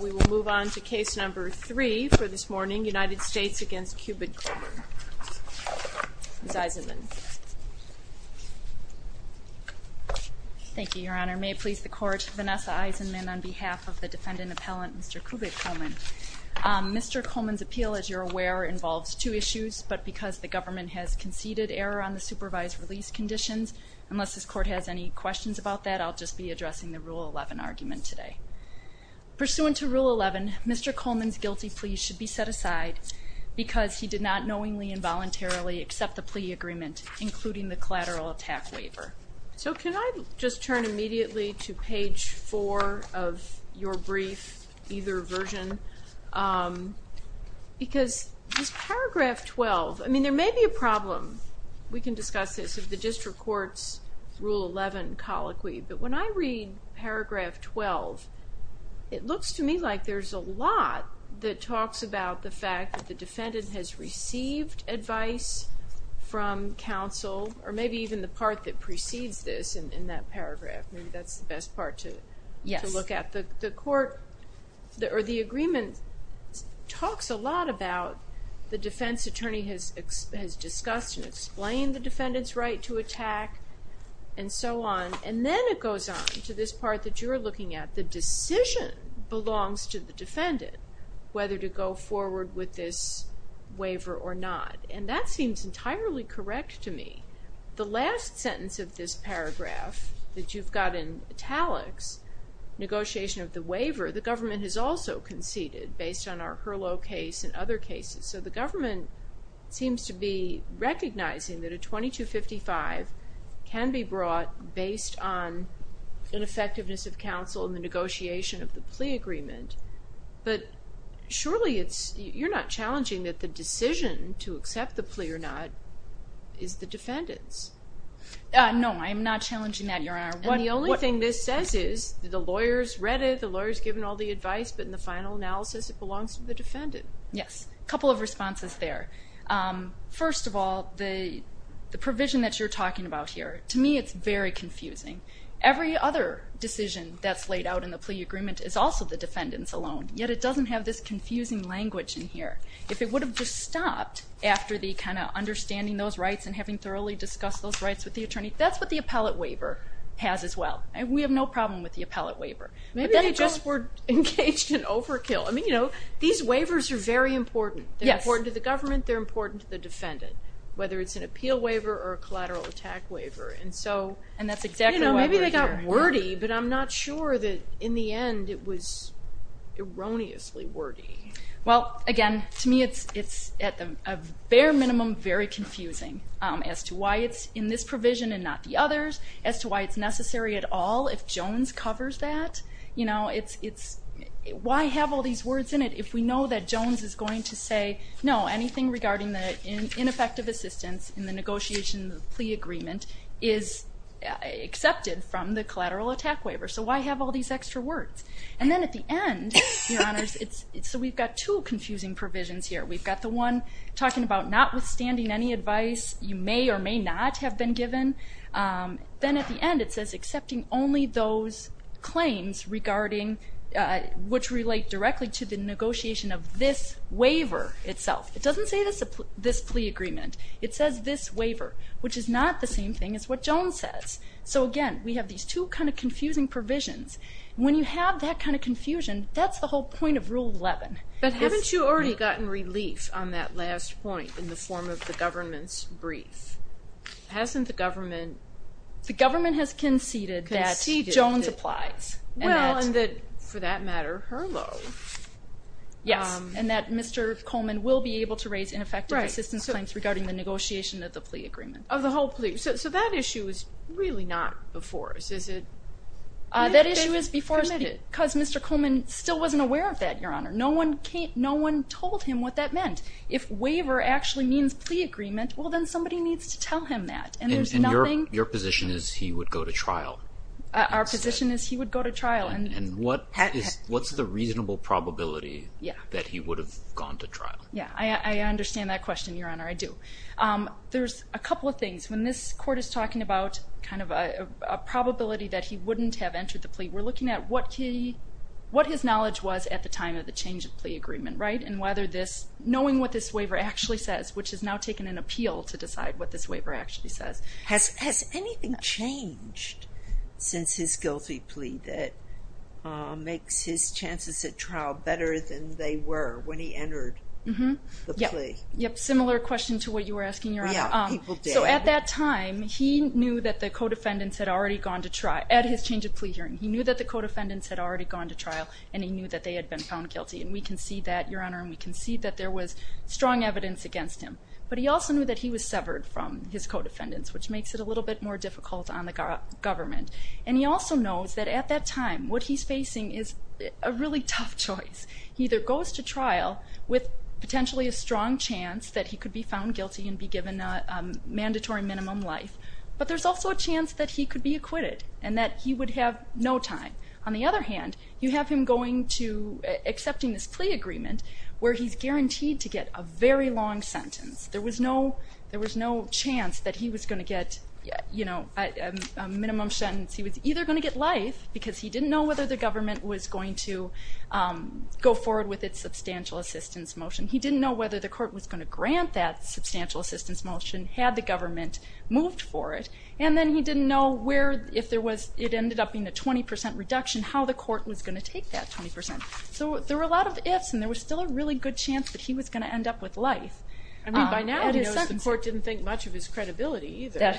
We will move on to case number three for this morning, United States v. Qubid Coleman. Ms. Eisenman. Thank you, Your Honor. May it please the Court, Vanessa Eisenman on behalf of the defendant appellant, Mr. Qubid Coleman. Mr. Coleman's appeal, as you're aware, involves two issues, but because the government has conceded error on the supervised release conditions, unless this Court has any questions about that, I'll just be addressing the Rule 11 argument today. Pursuant to Rule 11, Mr. Coleman's guilty plea should be set aside because he did not knowingly and voluntarily accept the plea agreement, including the collateral attack waiver. So can I just turn immediately to page 4 of your brief, either version, because this paragraph 12, I mean, there may be a problem, we can discuss this, if the district court's Rule 11 colloquy, but when I read paragraph 12, it looks to me like there's a lot that talks about the fact that the defendant has received advice from counsel, or maybe even the part that precedes this in that paragraph, maybe that's the best part to look at. The agreement talks a lot about the defense attorney has discussed and explained the defendant's right to attack and so on, and then it goes on to this part that you're looking at, the decision belongs to the defendant, whether to go forward with this waiver or not, and that seems entirely correct to me. The last sentence of this paragraph that you've got in italics, negotiation of the waiver, the government has also conceded based on our Hurlough case and other cases, so the government seems to be recognizing that a 2255 can be brought based on an effectiveness of counsel in the negotiation of the plea agreement, but surely you're not challenging that the decision to accept the plea or not is the defendant's? No, I'm not challenging that, Your Honor. And the only thing this says is the lawyer's read it, the lawyer's given all the advice, but in the final analysis it belongs to the defendant. Yes, a couple of responses there. First of all, the provision that you're talking about here, to me it's very confusing. Every other decision that's laid out in the plea agreement is also the defendant's alone, yet it doesn't have this confusing language in here. If it would have just stopped after the kind of understanding those rights and having thoroughly discussed those rights with the attorney, that's what the appellate waiver has as well. We have no problem with the appellate waiver. Maybe they just were engaged in overkill. I mean, you know, these waivers are very important. They're important to the government, they're important to the defendant, whether it's an appeal waiver or a collateral attack waiver. And that's exactly what we're hearing. Maybe they got wordy, but I'm not sure that in the end it was erroneously wordy. Well, again, to me it's at the bare minimum very confusing as to why it's in this provision and not the others, as to why it's necessary at all if Jones covers that. Why have all these words in it if we know that Jones is going to say, no, anything regarding the ineffective assistance in the negotiation of the plea agreement is accepted from the collateral attack waiver, so why have all these extra words? And then at the end, Your Honors, so we've got two confusing provisions here. We've got the one talking about notwithstanding any advice you may or may not have been given. Then at the end it says accepting only those claims regarding which relate directly to the negotiation of this waiver itself. It doesn't say this plea agreement. It says this waiver, which is not the same thing as what Jones says. So, again, we have these two kind of confusing provisions. When you have that kind of confusion, that's the whole point of Rule 11. But haven't you already gotten relief on that last point in the form of the government's brief? Hasn't the government conceded that Jones applies? Well, and that, for that matter, Herlow. Yes, and that Mr. Coleman will be able to raise ineffective assistance claims regarding the negotiation of the plea agreement. Of the whole plea. So that issue is really not before us, is it? That issue is before us because Mr. Coleman still wasn't aware of that, Your Honor. No one told him what that meant. If waiver actually means plea agreement, well, then somebody needs to tell him that. And your position is he would go to trial? Our position is he would go to trial. And what's the reasonable probability that he would have gone to trial? Yeah, I understand that question, Your Honor. I do. There's a couple of things. When this court is talking about kind of a probability that he wouldn't have entered the plea, we're looking at what his knowledge was at the time of the change of plea agreement, right? And whether this, knowing what this waiver actually says, which has now taken an appeal to decide what this waiver actually says. Has anything changed since his guilty plea that makes his chances at trial better than they were when he entered the plea? Yep, similar question to what you were asking, Your Honor. Yeah, people did. So at that time, he knew that the co-defendants had already gone to trial. At his change of plea hearing, he knew that the co-defendants had already gone to trial and he knew that they had been found guilty. And we can see that, Your Honor, and we can see that there was strong evidence against him. But he also knew that he was severed from his co-defendants, which makes it a little bit more difficult on the government. And he also knows that at that time, what he's facing is a really tough choice. He either goes to trial with potentially a strong chance that he could be found guilty and be given a mandatory minimum life, but there's also a chance that he could be acquitted and that he would have no time. On the other hand, you have him going to accepting this plea agreement where he's guaranteed to get a very long sentence. There was no chance that he was going to get a minimum sentence. He was either going to get life because he didn't know whether the government was going to go forward with its substantial assistance motion. He didn't know whether the court was going to grant that substantial assistance motion had the government moved for it. And then he didn't know if it ended up being a 20% reduction, how the court was going to take that 20%. So there were a lot of ifs, and there was still a really good chance that he was going to end up with life. I mean, by now, the court didn't think much of his credibility either.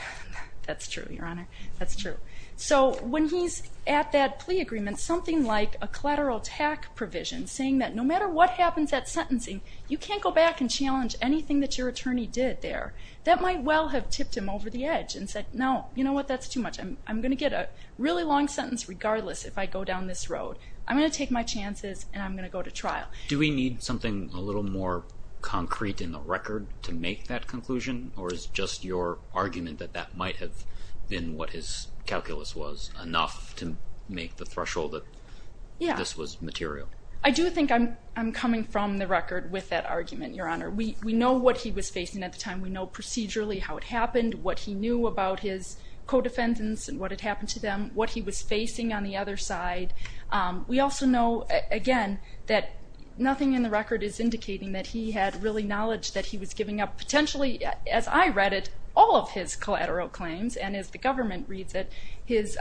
That's true, Your Honor. That's true. So when he's at that plea agreement, something like a collateral attack provision, saying that no matter what happens at sentencing, you can't go back and challenge anything that your attorney did there, that might well have tipped him over the edge and said, no, you know what, that's too much. I'm going to get a really long sentence regardless if I go down this road. I'm going to take my chances, and I'm going to go to trial. Do we need something a little more concrete in the record to make that conclusion, or is just your argument that that might have been what his calculus was, enough to make the threshold that this was material? I do think I'm coming from the record with that argument, Your Honor. We know what he was facing at the time. We know procedurally how it happened, what he knew about his co-defendants and what had happened to them, what he was facing on the other side. We also know, again, that nothing in the record is indicating that he had really knowledge that he was giving up potentially, as I read it, all of his collateral claims, and as the government reads it, his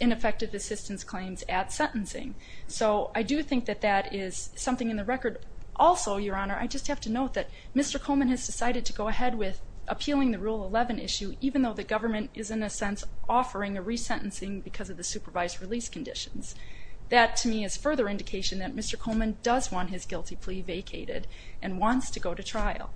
ineffective assistance claims at sentencing. So I do think that that is something in the record. Also, Your Honor, I just have to note that Mr. Coleman has decided to go ahead with appealing the Rule 11 issue, even though the government is, in a sense, offering a resentencing because of the supervised release conditions. That, to me, is further indication that Mr. Coleman does want his guilty plea vacated and wants to go to trial.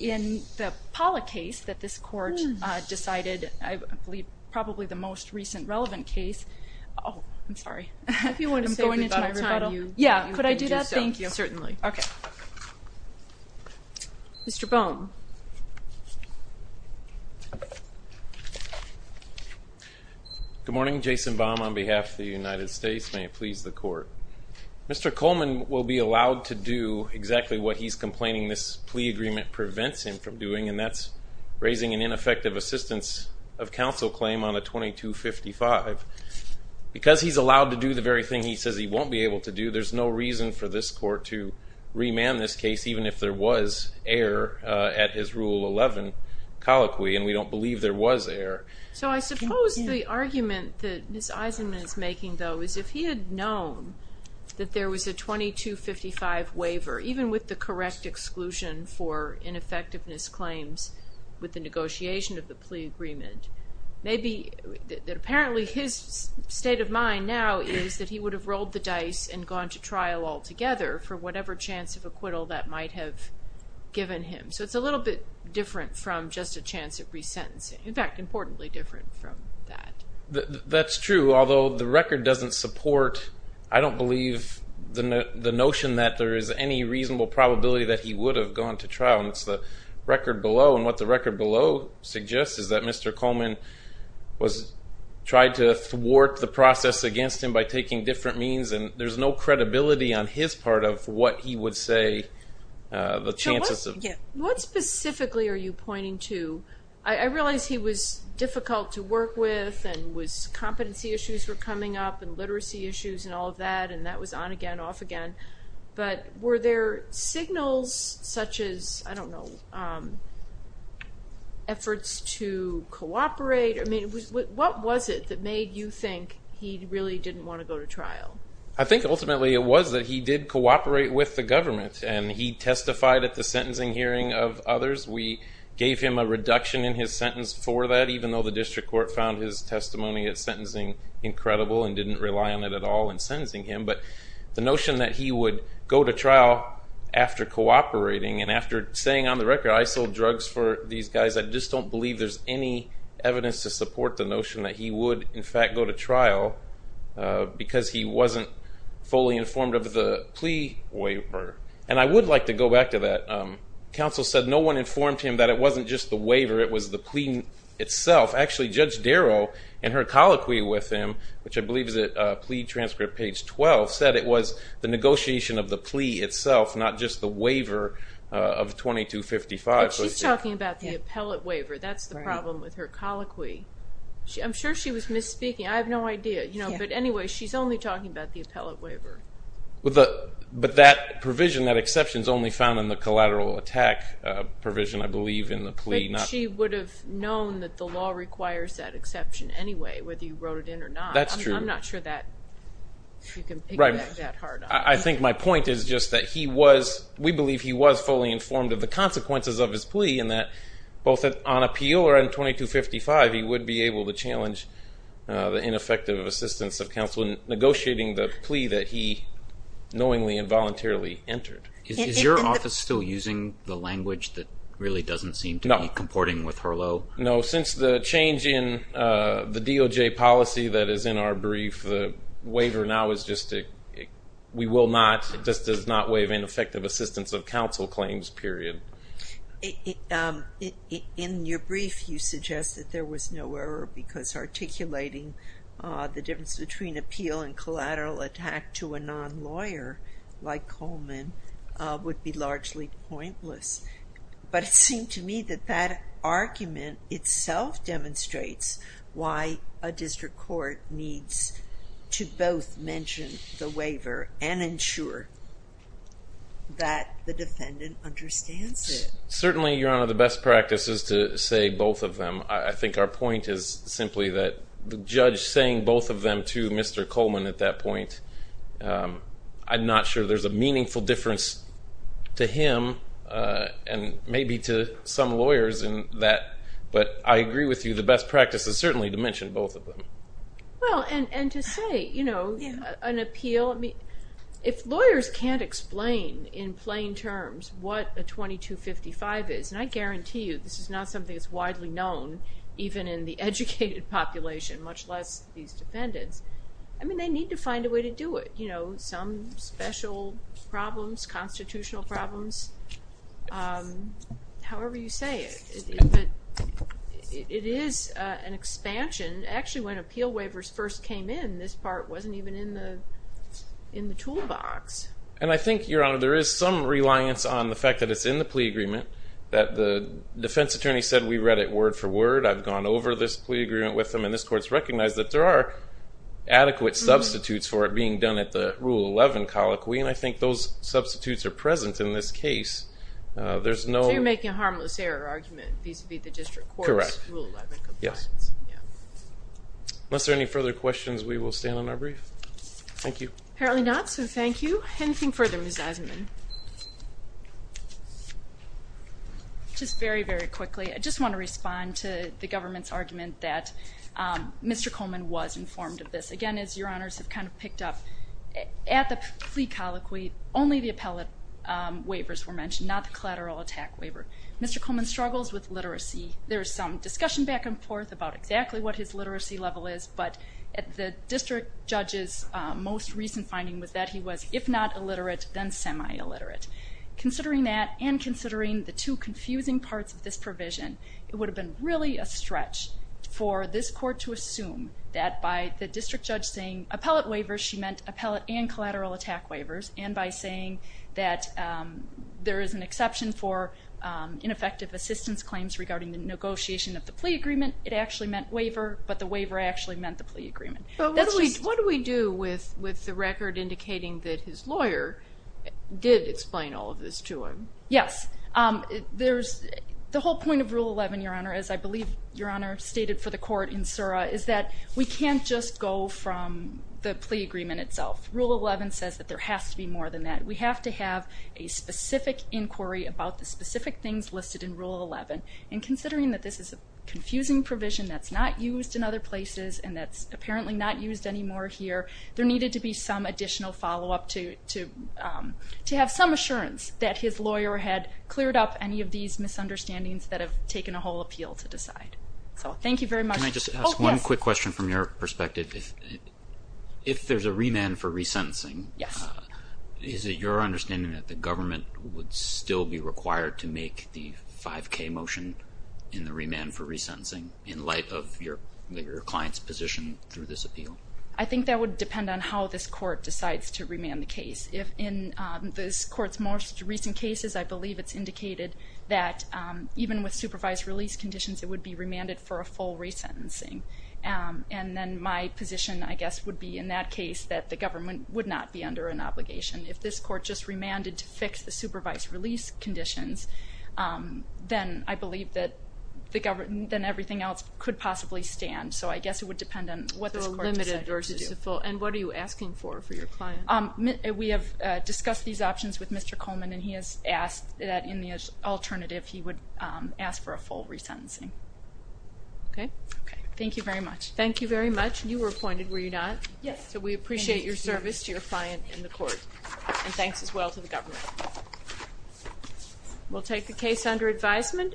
In the Pollack case that this Court decided, I believe probably the most recent relevant case – oh, I'm sorry. If you want to save the time, you can do so. Yeah, could I do that? Thank you. Certainly. Okay. Mr. Bohm. Good morning. Jason Bohm on behalf of the United States. May it please the Court. Mr. Coleman will be allowed to do exactly what he's complaining this plea agreement prevents him from doing, and that's raising an ineffective assistance of counsel claim on a 2255. Because he's allowed to do the very thing he says he won't be able to do, there's no reason for this Court to remand this case, even if there was error at his Rule 11 colloquy, and we don't believe there was error. So I suppose the argument that Ms. Eisenman is making, though, is if he had known that there was a 2255 waiver, even with the correct exclusion for ineffectiveness claims with the negotiation of the plea agreement, maybe that apparently his state of mind now is that he would have rolled the dice and gone to trial altogether for whatever chance of acquittal that might have given him. So it's a little bit different from just a chance of resentencing. In fact, importantly different from that. That's true, although the record doesn't support, I don't believe, the notion that there is any reasonable probability that he would have gone to trial, and it's the record below. And what the record below suggests is that Mr. Coleman tried to thwart the process against him by taking different means, and there's no credibility on his part of what he would say the chances of. What specifically are you pointing to? I realize he was difficult to work with, and competency issues were coming up and literacy issues and all of that, and that was on again, off again. But were there signals such as, I don't know, efforts to cooperate? What was it that made you think he really didn't want to go to trial? I think ultimately it was that he did cooperate with the government, and he testified at the sentencing hearing of others. We gave him a reduction in his sentence for that, even though the district court found his testimony at sentencing incredible and didn't rely on it at all in sentencing him. But the notion that he would go to trial after cooperating and after saying, on the record, I sold drugs for these guys, I just don't believe there's any evidence to support the notion that he would, in fact, go to trial because he wasn't fully informed of the plea waiver. And I would like to go back to that. Counsel said no one informed him that it wasn't just the waiver, it was the plea itself. Actually, Judge Darrow, in her colloquy with him, which I believe is at plea transcript page 12, said it was the negotiation of the plea itself, not just the waiver of 2255. But she's talking about the appellate waiver. That's the problem with her colloquy. I'm sure she was misspeaking. I have no idea. But anyway, she's only talking about the appellate waiver. But that provision, that exception, is only found in the collateral attack provision, I believe, in the plea. But she would have known that the law requires that exception anyway, whether you wrote it in or not. That's true. I'm not sure that you can piggyback that hard on. I think my point is just that we believe he was fully informed of the consequences of his plea and that both on appeal or on 2255, he would be able to challenge the ineffective assistance of counsel in negotiating the plea that he knowingly and voluntarily entered. Is your office still using the language that really doesn't seem to be comporting with Herlo? No. Since the change in the DOJ policy that is in our brief, the waiver now is just a we will not, this does not waive ineffective assistance of counsel claims, period. In your brief, you suggest that there was no error because articulating the difference between appeal and collateral attack to a non-lawyer like Coleman would be largely pointless. But it seemed to me that that argument itself demonstrates why a district court needs to both mention the waiver and ensure that the defendant understands it. Certainly, Your Honor, the best practice is to say both of them. I think our point is simply that the judge saying both of them to Mr. Coleman at that point, I'm not sure there's a meaningful difference to him and maybe to some lawyers in that. But I agree with you, the best practice is certainly to mention both of them. Well, and to say, you know, an appeal, if lawyers can't explain in plain terms what a 2255 is, and I guarantee you this is not something that's widely known, even in the educated population, much less these defendants, I mean, they need to find a way to do it. Some special problems, constitutional problems, however you say it. It is an expansion. Actually, when appeal waivers first came in, this part wasn't even in the toolbox. And I think, Your Honor, there is some reliance on the fact that it's in the plea agreement, that the defense attorney said we read it word for word, I've gone over this plea agreement with them, and this court's recognized that there are adequate substitutes for it being done at the Rule 11 colloquy, and I think those substitutes are present in this case. So you're making a harmless error argument, vis-à-vis the district court's Rule 11 compliance. Yes. Unless there are any further questions, we will stand on our brief. Thank you. Apparently not, so thank you. Anything further, Ms. Eisenman? Just very, very quickly, I just want to respond to the government's argument that Mr. Coleman was informed of this. Again, as Your Honors have kind of picked up, at the plea colloquy, only the appellate waivers were mentioned, not the collateral attack waiver. Mr. Coleman struggles with literacy. There is some discussion back and forth about exactly what his literacy level is, but the district judge's most recent finding was that he was, if not illiterate, then semi-illiterate. Considering that and considering the two confusing parts of this provision, it would have been really a stretch for this court to assume that by the collateral attack waivers and by saying that there is an exception for ineffective assistance claims regarding the negotiation of the plea agreement, it actually meant waiver, but the waiver actually meant the plea agreement. What do we do with the record indicating that his lawyer did explain all of this to him? Yes. The whole point of Rule 11, Your Honor, as I believe Your Honor stated for the court in Sura, is that we can't just go from the plea agreement itself. Rule 11 says that there has to be more than that. We have to have a specific inquiry about the specific things listed in Rule 11. And considering that this is a confusing provision that's not used in other places and that's apparently not used anymore here, there needed to be some additional follow-up to have some assurance that his lawyer had cleared up any of these misunderstandings that have taken a whole appeal to decide. So thank you very much. Can I just ask one quick question from your perspective? If there's a remand for resentencing, is it your understanding that the government would still be required to make the 5K motion in the remand for resentencing in light of your client's position through this appeal? I think that would depend on how this court decides to remand the case. In this court's most recent cases, I believe it's indicated that even with supervised release conditions, it would be remanded for a full resentencing. And then my position, I guess, would be in that case that the government would not be under an obligation. If this court just remanded to fix the supervised release conditions, then I believe that everything else could possibly stand. So I guess it would depend on what this court decided to do. And what are you asking for for your client? We have discussed these options with Mr. Coleman, and he has asked that in the alternative he would ask for a full resentencing. Okay. Okay. Thank you very much. Thank you very much. You were appointed, were you not? Yes. So we appreciate your service to your client in the court. And thanks as well to the government. We'll take the case under advisement.